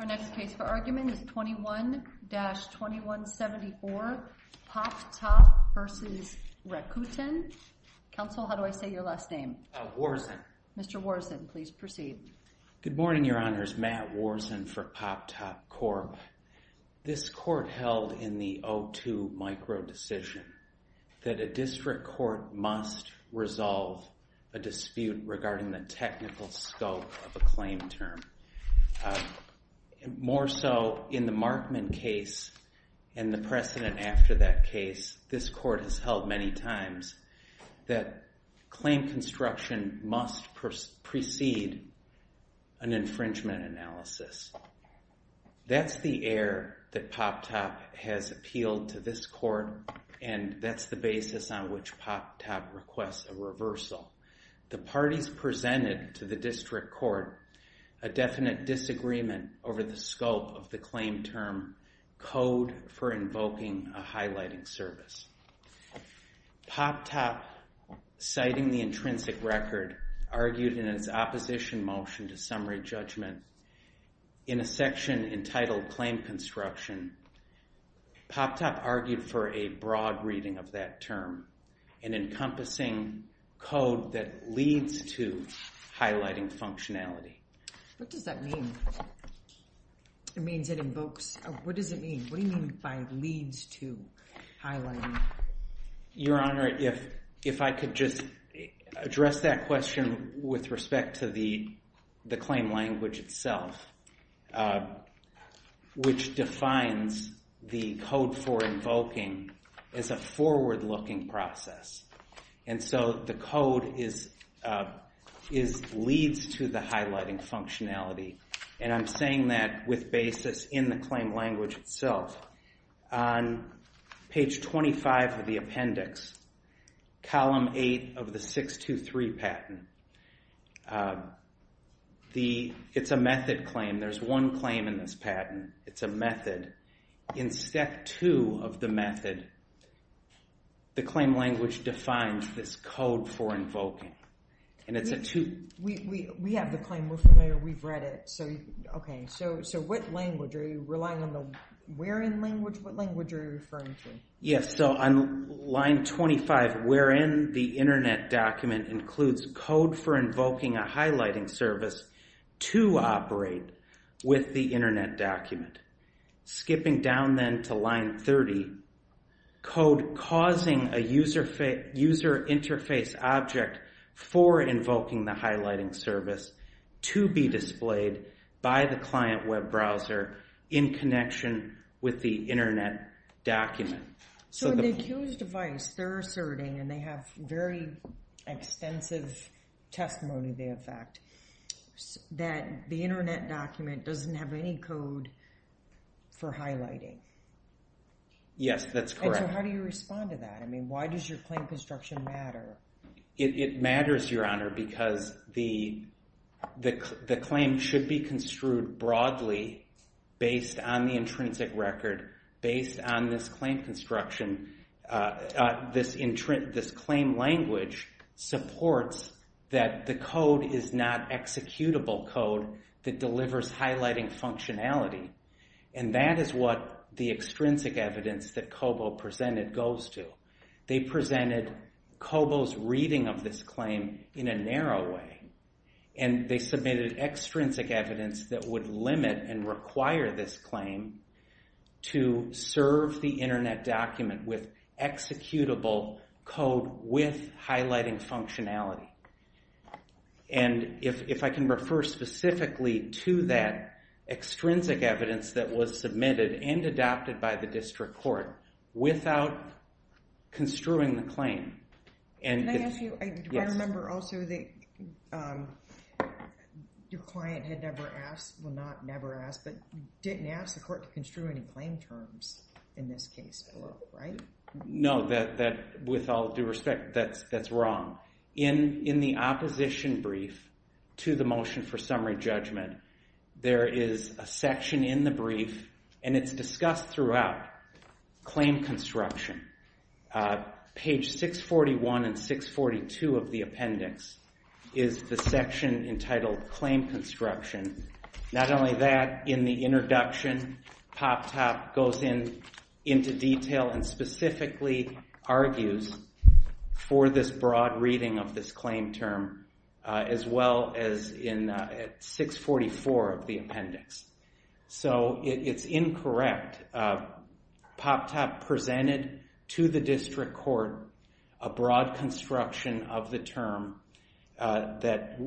Our next case for argument is 21-2174 Pop Top v. Rakuten. Counsel, how do I say your last name? Worzen. Mr. Worzen, please proceed. Good morning, Your Honors. Matt Worzen for Pop Top Corp. This court held in the O2 micro decision that a district court must resolve a dispute regarding the technical scope of a claim term. More so in the Markman case and the precedent after that case, this court has held many times that claim construction must precede an infringement analysis. That's the air that Pop Top has appealed to this court and that's the basis on which Pop Top requests a reversal. The parties presented to the district court a definite disagreement over the scope of the claim term code for invoking a highlighting service. Pop Top, citing the intrinsic record, argued in its opposition motion to summary judgment in a section entitled claim construction. Pop Top argued for a broad reading of that term, an encompassing code that leads to highlighting functionality. What does that mean? It means it invokes? What does it mean? What do you mean by leads to highlighting? Your Honor, if I could just address that question with respect to the claim language itself, which defines the code for invoking as a forward-looking process, and so the code is leads to the highlighting functionality, and I'm saying that with basis in the claim language itself. On page 25 of the appendix, column 8 of the 623 patent, it's a method claim. There's one claim in this patent. It's a method. In step 2 of the method, the claim language defines this code for invoking, and it's a We have the claim. We're familiar. We've read it. So, okay, so what language? Are you relying on the wherein language? What language are you referring to? Yes, so on line 25, wherein the internet document includes code for invoking a highlighting service to operate with the internet document, skipping down then to line 30, code causing a user interface object for invoking the highlighting service to be displayed by the client web browser in connection with the internet document. So the accused device, they're asserting, and they have very extensive testimony they affect, that the internet document doesn't have any code for highlighting. Yes, that's correct. And so how do you respond to that? I mean, why does your claim construction matter? It matters, Your Honor, because the claim should be construed broadly based on the intrinsic record, based on this claim construction, this claim language supports that the code is not executable code that delivers highlighting functionality, and that is what the extrinsic evidence that Kobo presented goes to. They presented Kobo's reading of this claim in a narrow way, and they submitted extrinsic evidence that would limit and require this claim to serve the internet document with executable code with highlighting functionality. And if I can refer specifically to that extrinsic evidence that was submitted and adopted by the district court without construing the claim. Can I ask you, I remember also that your client had never asked, well not never asked, but didn't ask the court to construe any claim terms in this case, right? No, with all due respect, that's wrong. In the opposition brief to the motion for summary judgment, there is a section in the brief, and it's discussed throughout, claim construction. Page 641 and 642 of the appendix is the section entitled claim construction. Not only that, in the introduction, Poptop goes into detail and specifically argues for this broad reading of this claim term, as well as in 644 of the appendix. So it's incorrect. In fact, Poptop presented to the district court a broad construction of the term that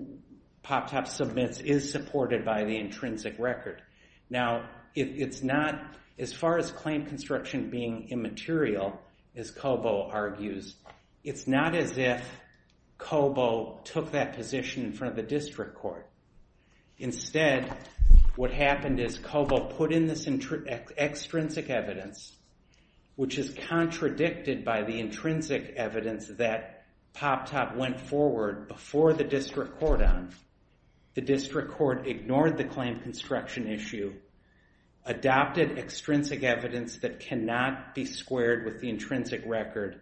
Poptop submits is supported by the intrinsic record. Now, it's not, as far as claim construction being immaterial, as Cobo argues, it's not as if Cobo took that position in front of the district court. Instead, what happened is Cobo put in this extrinsic evidence, which is contradicted by the intrinsic evidence that Poptop went forward before the district court on. The district court ignored the claim construction issue, adopted extrinsic evidence that cannot be squared with the intrinsic record,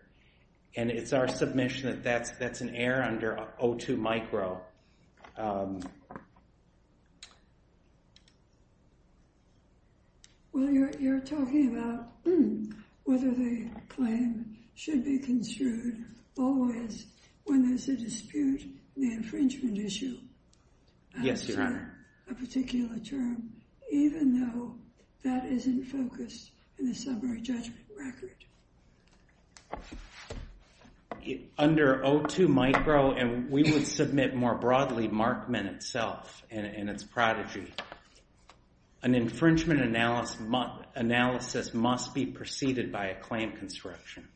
and it's our submission that that's an error under O2 micro. Well, you're talking about whether the claim should be construed always when there's a dispute in the infringement issue. Yes, Your Honor. A particular term, even though that isn't focused in the summary judgment record. Under O2 micro, and we would submit more broadly Markman itself and its prodigy, an infringement analysis must be preceded by a claim construction.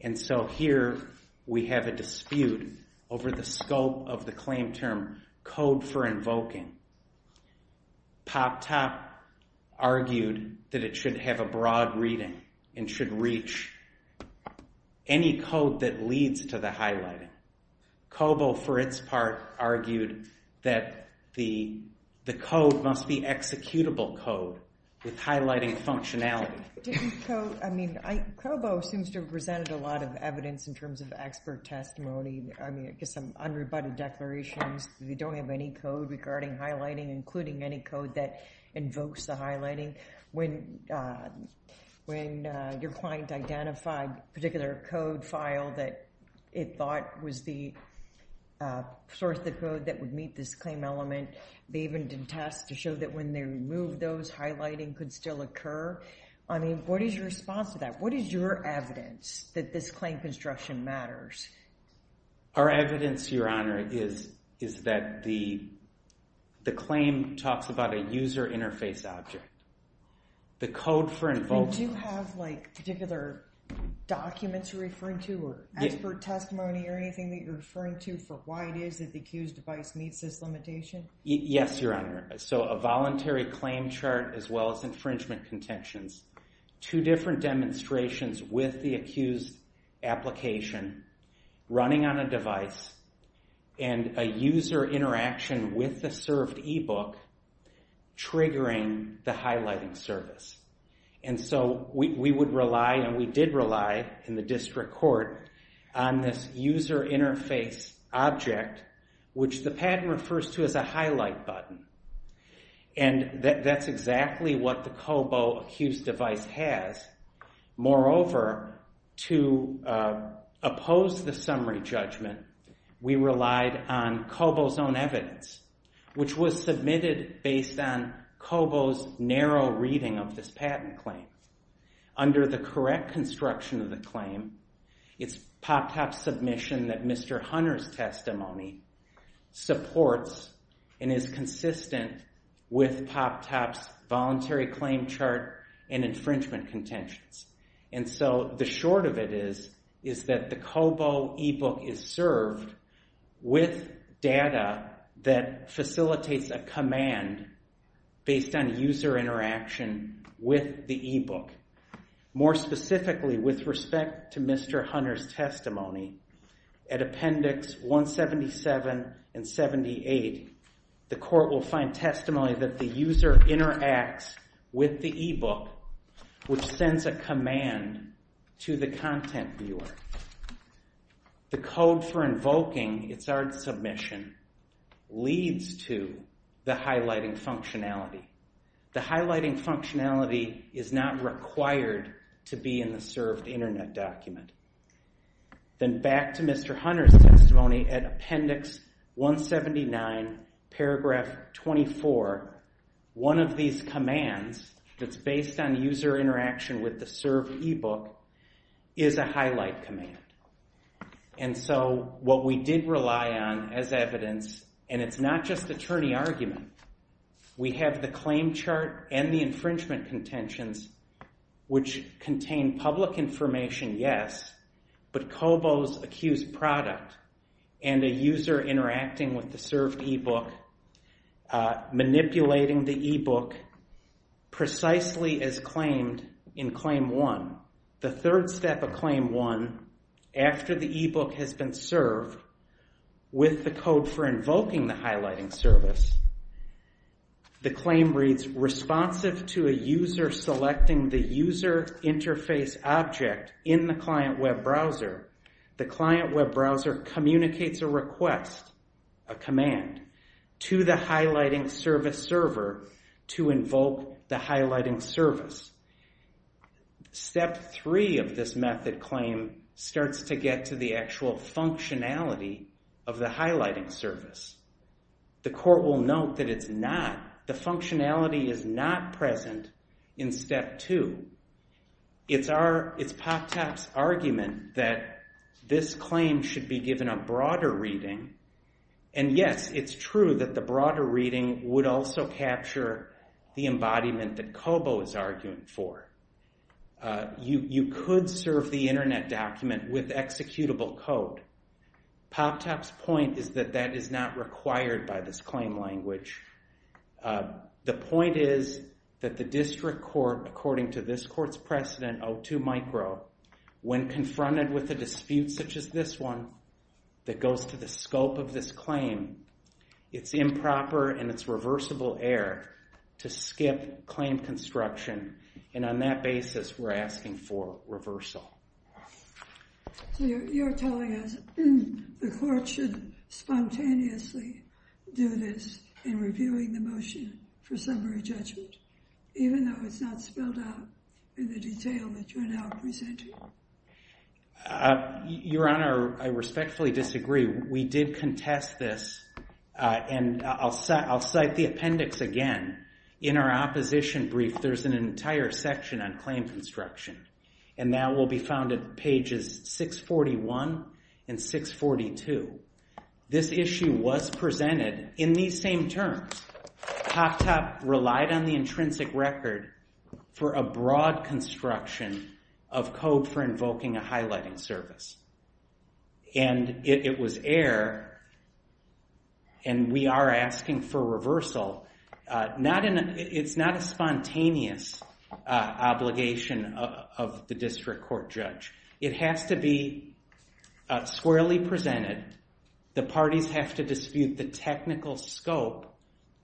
And so here we have a dispute over the scope of the claim term code for invoking. Poptop argued that it should have a broad reading and should reach any code that leads to the highlighting. Cobo, for its part, argued that the code must be executable code with highlighting functionality. I mean, Cobo seems to have presented a lot of evidence in terms of expert testimony. I mean, I guess some unrebutted declarations. We don't have any code regarding highlighting, including any code that invokes the highlighting. When your client identified a particular code file that it thought was the source of code that would meet this claim element, they even did tests to show that when they removed those, highlighting could still occur. I mean, what is your response to that? What is your evidence that this claim construction matters? Our evidence, Your Honor, is that the claim talks about a user interface object. The code for invoking- Do you have like particular documents you're referring to or expert testimony or anything that you're referring to for why it is that the accused device meets this limitation? Yes, Your Honor. So a voluntary claim chart as well as infringement contentions. Two different demonstrations with the accused application running on a device and a user interaction with the served e-book triggering the highlighting service. And so we would rely and we did rely in the district court on this user interface object, which the patent refers to as a highlight button. And that's exactly what the COBO accused device has. Moreover, to oppose the summary judgment, we relied on COBO's own evidence, which was submitted based on COBO's narrow reading of this patent claim. It's POPTOP's submission that Mr. Hunter's testimony supports and is consistent with POPTOP's voluntary claim chart and infringement contentions. And so the short of it is that the COBO e-book is served with data that facilitates a command based on user interaction with the e-book. More specifically, with respect to Mr. Hunter's testimony, at appendix 177 and 78, the court will find testimony that the user interacts with the e-book, which sends a command to the content viewer. The code for invoking its own submission leads to the highlighting functionality. The highlighting functionality is not required to be in the served internet document. Then back to Mr. Hunter's testimony at appendix 179, paragraph 24, one of these commands that's based on user interaction with the served e-book is a highlight command. And so what we did rely on as evidence, and it's not just attorney argument, we have the claim chart and the infringement contentions, which contain public information, yes, but COBO's accused product and a user interacting with the served e-book, manipulating the e-book precisely as claimed in claim one. The third step of claim one, after the e-book has been served with the code for invoking the highlighting service, the claim reads, responsive to a user selecting the user interface object in the client web browser, the client web browser communicates a request, a command, to the highlighting service server to invoke the highlighting service. Step three of this method claim starts to get to the actual functionality of the highlighting service. The court will note that it's not, the functionality is not present in step two. It's our, it's POPTAP's argument that this claim should be given a broader reading. And yes, it's true that the broader reading would also capture the embodiment that COBO is arguing for. You could serve the internet document with executable code. POPTAP's point is that that is not required by this claim language. The point is that the district court, according to this court's precedent O2 micro, when confronted with a dispute such as this one that goes to the scope of this claim, it's improper and it's reversible error to skip claim construction. And on that basis, we're asking for reversal. So you're telling us the court should spontaneously do this in reviewing the motion for summary judgment, even though it's not spelled out in the detail that you're now presenting? Your Honor, I respectfully disagree. We did contest this. And I'll cite the appendix again. In our opposition brief, there's an entire section on claim construction. And that will be found at pages 641 and 642. This issue was presented in these same terms. POPTAP relied on the intrinsic record for a broad construction of code for invoking a highlighting service. And it was error. And we are asking for reversal. It's not a spontaneous obligation of the district court judge. It has to be squarely presented. The parties have to dispute the technical scope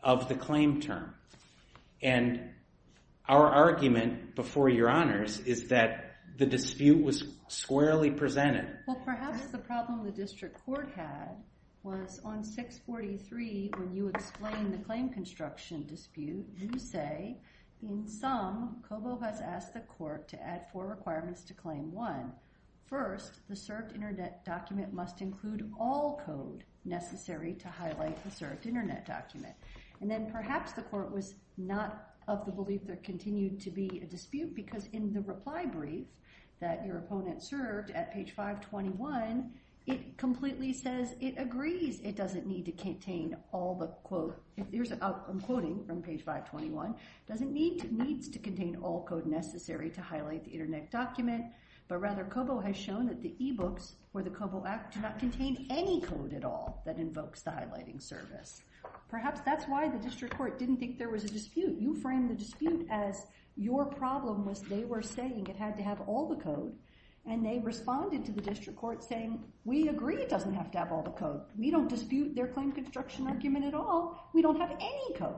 of the claim term. And our argument before your honors is that the dispute was squarely presented. Well, perhaps the problem the district court had was on 643, when you explain the claim construction dispute, you say, in sum, COBO has asked the court to add four requirements to claim one. First, the served internet document must include all code necessary to highlight the served internet document. And then perhaps the court was not of the belief there continued to be a dispute. Because in the reply brief that your opponent served at page 521, it completely says it agrees. It doesn't need to contain all the quote. I'm quoting from page 521. Doesn't need to contain all code necessary to highlight the internet document. But rather, COBO has shown that the e-books for the COBO Act do not contain any code at all that invokes the highlighting service. Perhaps that's why the district court didn't think there was a dispute. You frame the dispute as your problem was they were saying it had to have all the code. And they responded to the district court saying, we agree it doesn't have to have all the code. We don't dispute their claim construction argument at all. We don't have any code.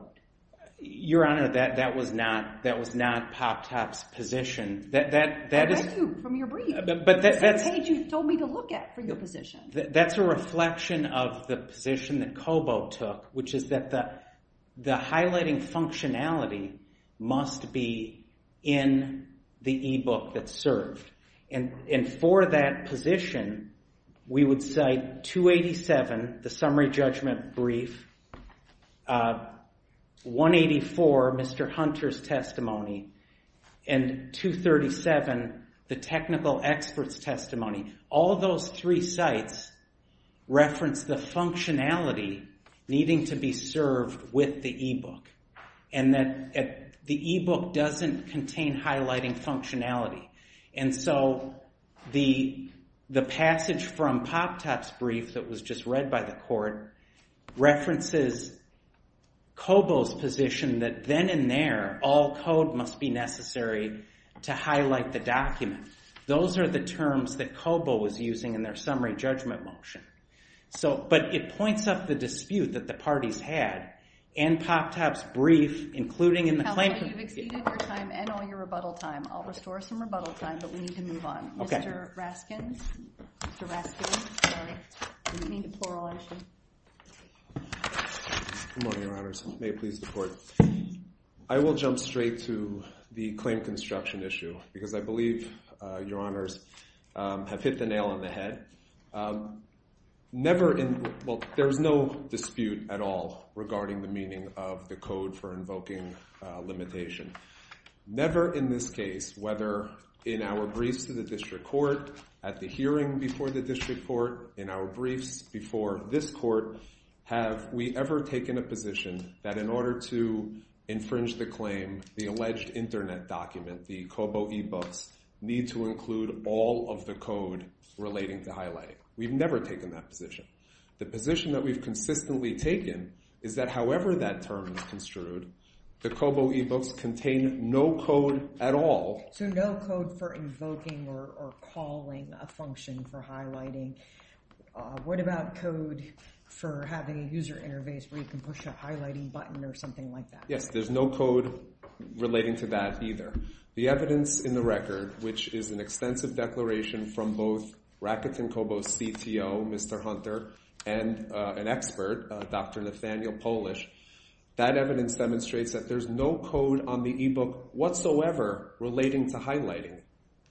Your honor, that was not Pop-Top's position. I read you from your brief. That's the page you told me to look at for your position. That's a reflection of the position that COBO took, which is that the highlighting functionality must be in the e-book that's served. And for that position, we would cite 287, the summary judgment brief. 184, Mr. Hunter's testimony. And 237, the technical expert's testimony. All those three sites reference the functionality needing to be served with the e-book. And that the e-book doesn't contain highlighting functionality. And so the passage from Pop-Top's brief that was just read by the court references COBO's position that then and there, all code must be necessary to highlight the document. Those are the terms that COBO was using in their summary judgment motion. But it points up the dispute that the parties had in Pop-Top's brief, including in the claim. Counselor, you've exceeded your time and all your rebuttal time. I'll restore some rebuttal time, but we need to move on. Mr. Raskin, Mr. Raskin, sorry, we need a plural issue. Good morning, your honors. May it please the court. I will jump straight to the claim construction issue. Because I believe your honors have hit the nail on the head. Never in, well, there's no dispute at all regarding the meaning of the code for invoking limitation. Never in this case, whether in our briefs to the district court, at the hearing before the district court, in our briefs before this court, have we ever taken a position that in order to infringe the claim, the alleged internet document, the COBO e-books, need to include all of the code relating to highlighting. We've never taken that position. The position that we've consistently taken is that however that term is construed, the COBO e-books contain no code at all. So no code for invoking or calling a function for highlighting. What about code for having a user interface where you can push a highlighting button or something like that? Yes, there's no code relating to that either. The evidence in the record, which is an extensive declaration from both Rakuten COBO's CTO, Mr. Hunter, and an expert, Dr. Nathaniel Polish, that evidence demonstrates that there's no code on the e-book whatsoever relating to highlighting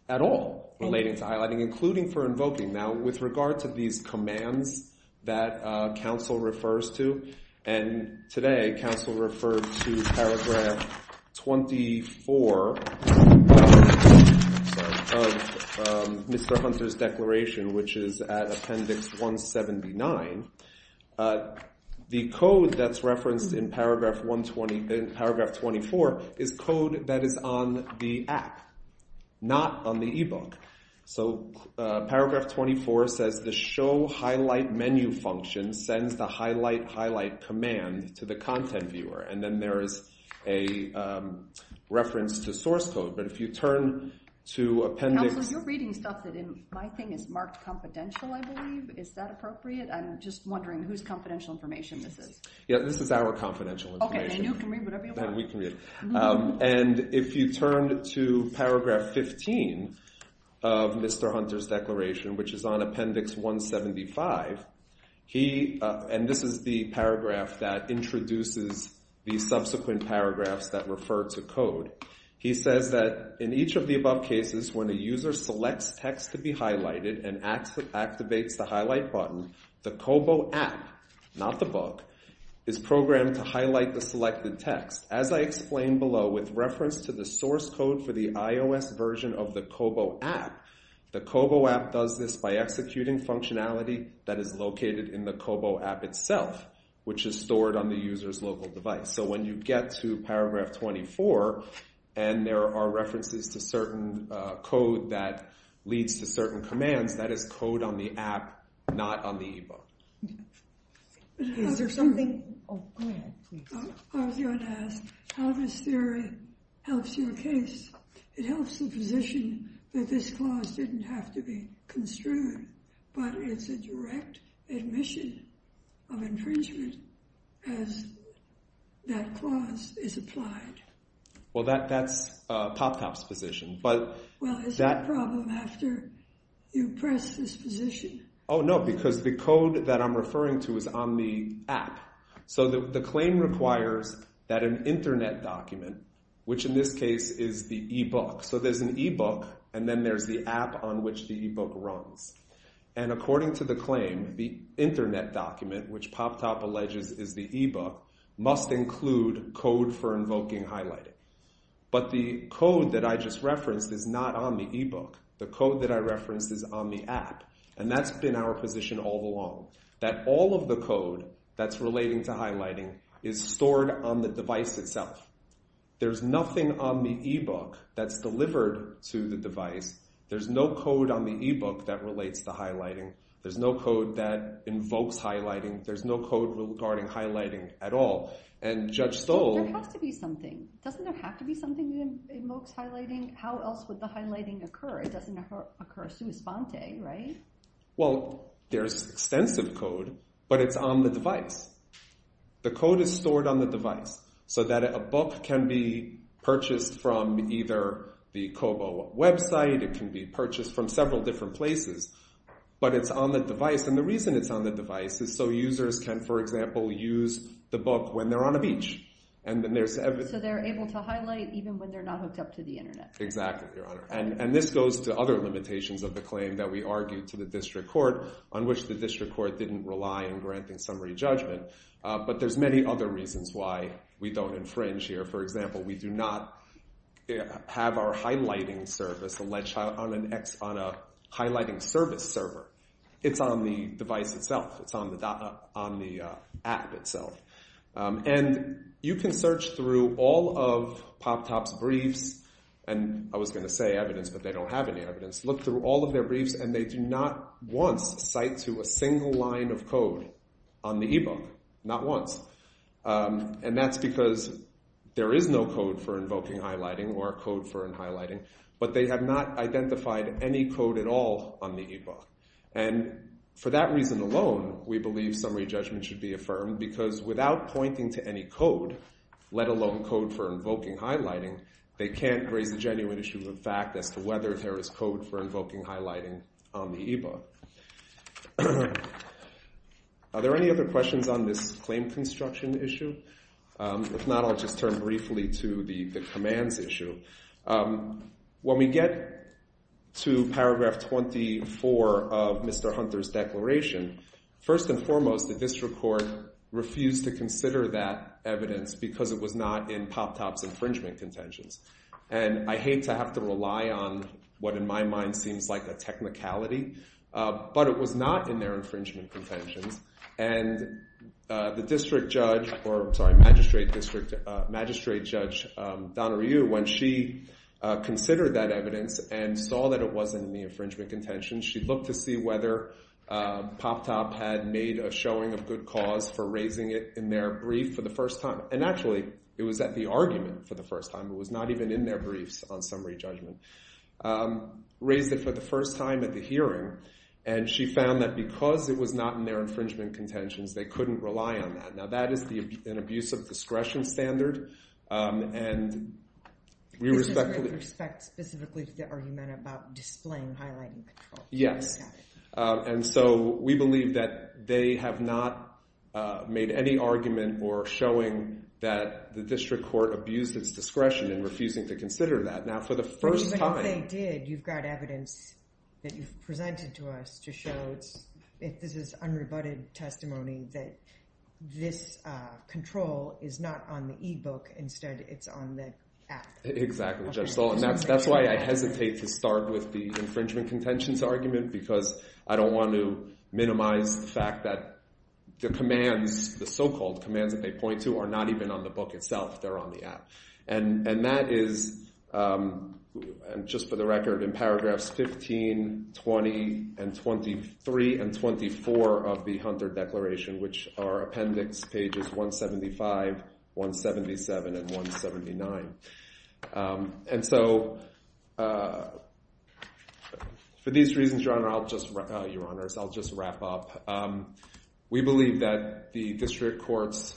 at all. Relating to highlighting, including for invoking. Now with regard to these commands that counsel refers to, and today, counsel referred to paragraph 24 of Mr. Hunter's declaration, which is at appendix 179. The code that's referenced in paragraph 24 is code that is on the app, not on the e-book. So paragraph 24 says, the show highlight menu function sends the highlight highlight command to the content viewer. And then there is a reference to source code. But if you turn to appendix... Counselor, you're reading stuff that in my thing is marked confidential, I believe. Is that appropriate? I'm just wondering whose confidential information this is. Yeah, this is our confidential information. Okay, then you can read whatever you want. Then we can read it. And if you turn to paragraph 15 of Mr. Hunter's declaration, which is on appendix 175, and this is the paragraph that introduces the subsequent paragraphs that refer to code. He says that in each of the above cases, when a user selects text to be highlighted and activates the highlight button, the Kobo app, not the book, is programmed to highlight the selected text. As I explained below, with reference to the source code for the iOS version of the Kobo app, the Kobo app does this by executing functionality that is located in the Kobo app itself, which is stored on the user's local device. So when you get to paragraph 24, and there are references to certain code that leads to certain commands, that is code on the app, not on the e-book. Is there something... Oh, go ahead, please. I was going to ask how this theory helps your case. It helps the position that this clause didn't have to be construed, but it's a direct admission of infringement as that clause is applied. Well, that's PopTop's position, but... Well, is there a problem after you press this position? Oh, no, because the code that I'm referring to is on the app. So the claim requires that an internet document, which in this case is the e-book. So there's an e-book, and then there's the app on which the e-book runs. And according to the claim, the internet document, which PopTop alleges is the e-book, must include code for invoking highlighting. But the code that I just referenced is not on the e-book. The code that I referenced is on the app. And that's been our position all along, that all of the code that's relating to highlighting is stored on the device itself. There's nothing on the e-book that's delivered to the device. There's no code on the e-book that relates to highlighting. There's no code that invokes highlighting. There's no code regarding highlighting at all. And Judge Stoll... There has to be something. Doesn't there have to be something that invokes highlighting? How else would the highlighting occur? It doesn't occur a sua sponte, right? Well, there's extensive code, but it's on the device. The code is stored on the device so that a book can be purchased from either the COBO website, it can be purchased from several different places, but it's on the device. And the reason it's on the device is so users can, for example, use the book when they're on a beach. So they're able to highlight even when they're not hooked up to the internet. Exactly, Your Honor. And this goes to other limitations of the claim that we argued to the district court, on which the district court didn't rely in granting summary judgment. But there's many other reasons why we don't infringe here. For example, we do not have our highlighting service on a highlighting service server. It's on the device itself. It's on the app itself. And you can search through all of PopTop's briefs. And I was going to say evidence, but they don't have any evidence. Look through all of their briefs, and they do not once cite to a single line of code on the e-book. Not once. And that's because there is no code for invoking highlighting or code for highlighting, but they have not identified any code at all on the e-book. And for that reason alone, we believe summary judgment should be affirmed because without pointing to any code, let alone code for invoking highlighting, they can't raise a genuine issue of fact as to whether there is code for invoking highlighting on the e-book. Are there any other questions on this claim construction issue? If not, I'll just turn briefly to the commands issue. When we get to paragraph 24 of Mr. Hunter's declaration, first and foremost, the district court refused to consider that evidence because it was not in PopTop's infringement contentions. And I hate to have to rely on what, in my mind, seems like a technicality. But it was not in their infringement contentions. And the district judge, or sorry, magistrate judge Donna Ryu, when she considered that evidence and saw that it wasn't in the infringement contentions, she looked to see whether PopTop had made a showing of good cause for raising it in their brief for the first time. And actually, it was at the argument for the first time. It was not even in their briefs on summary judgment. She raised it for the first time at the hearing. And she found that because it was not in their infringement contentions, they couldn't rely on that. Now, that is an abuse of discretion standard. And we respectfully- This is with respect specifically to the argument about displaying highlighting control. Yes. And so we believe that they have not made any argument or showing that the district court abused its discretion in refusing to consider that. Now, for the first time- But if they did, you've got evidence that you've presented to us to show that this is unrebutted testimony, that this control is not on the e-book. Instead, it's on the app. Exactly, Judge Stahl. And that's why I hesitate to start with the infringement contentions argument because I don't want to minimize the fact that the commands, the so-called commands that they point to, are not even on the book itself. They're on the app. And that is, just for the record, in paragraphs 15, 20, and 23, and 24 of the Hunter Declaration, which are appendix pages 175, 177, and 179. And so for these reasons, Your Honor, I'll just- Your Honors, I'll just wrap up. We believe that the district court's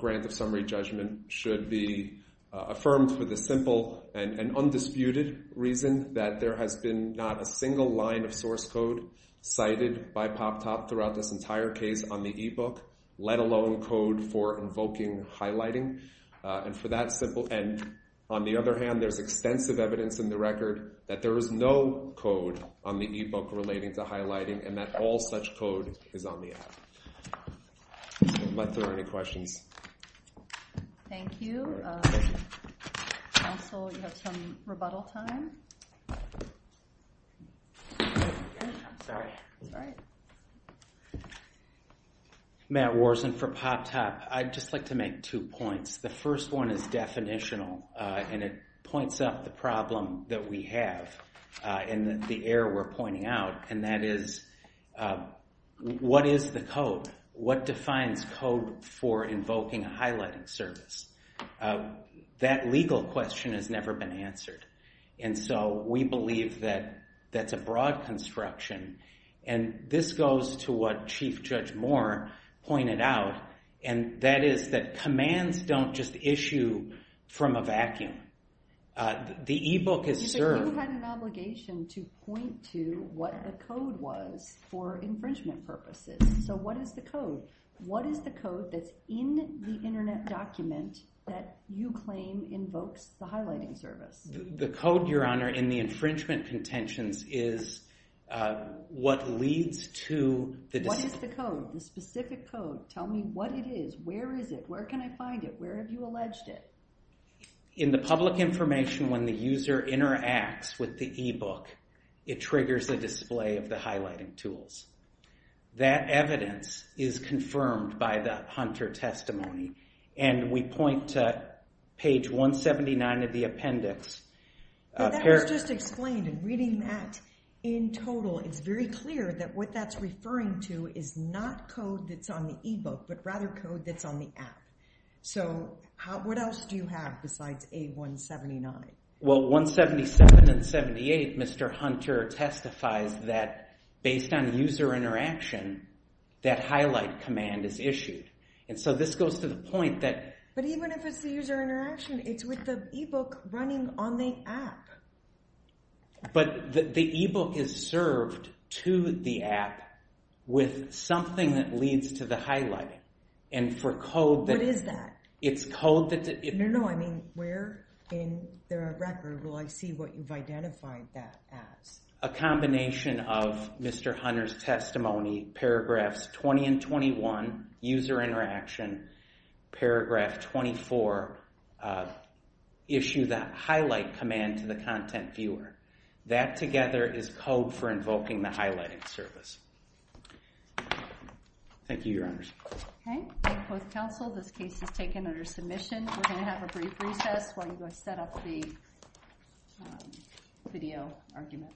grant of summary judgment should be affirmed for the simple and undisputed reason that there has been not a single line of source code cited by POPTOP throughout this entire case on the e-book, let alone code for invoking highlighting. And for that simple- And on the other hand, there's extensive evidence in the record that there is no code on the e-book relating to highlighting and that all such code is on the app. I'm not sure if there are any questions. Thank you. Counsel, you have some rebuttal time. I'm sorry. It's all right. Matt Worzen for POPTOP. I'd just like to make two points. The first one is definitional, and it points up the problem that we have and the error we're pointing out. And that is, what is the code? What defines code for invoking a highlighting service? That legal question has never been answered. And so we believe that that's a broad construction. And this goes to what Chief Judge Moore pointed out, and that is that commands don't just issue from a vacuum. The e-book is served- You said you had an obligation to point to what the code was for infringement purposes. So what is the code? What is the code that's in the internet document that you claim invokes the highlighting service? The code, Your Honor, in the infringement contentions is what leads to the- What is the code, the specific code? Tell me what it is. Where is it? Where can I find it? Where have you alleged it? In the public information, when the user interacts with the e-book, it triggers a display of the highlighting tools. That evidence is confirmed by the Hunter testimony. And we point to page 179 of the appendix. But that was just explained, and reading that in total, it's very clear that what that's referring to is not code that's on the e-book, but rather code that's on the app. So what else do you have besides A179? Well, 177 and 78, Mr. Hunter testifies that based on user interaction, that highlight command is issued. And so this goes to the point that- But even if it's the user interaction, it's with the e-book running on the app. But the e-book is served to the app with something that leads to the highlighting. And for code that- What is that? It's code that- No, I mean, where in the record will I see what you've identified that as? A combination of Mr. Hunter's testimony, paragraphs 20 and 21, user interaction, paragraph 24, issue that highlight command to the content viewer. That together is code for invoking the highlighting service. Thank you, Your Honors. Okay, thank you both, counsel. This case is taken under submission. We're gonna have a brief recess while you go set up the video argument.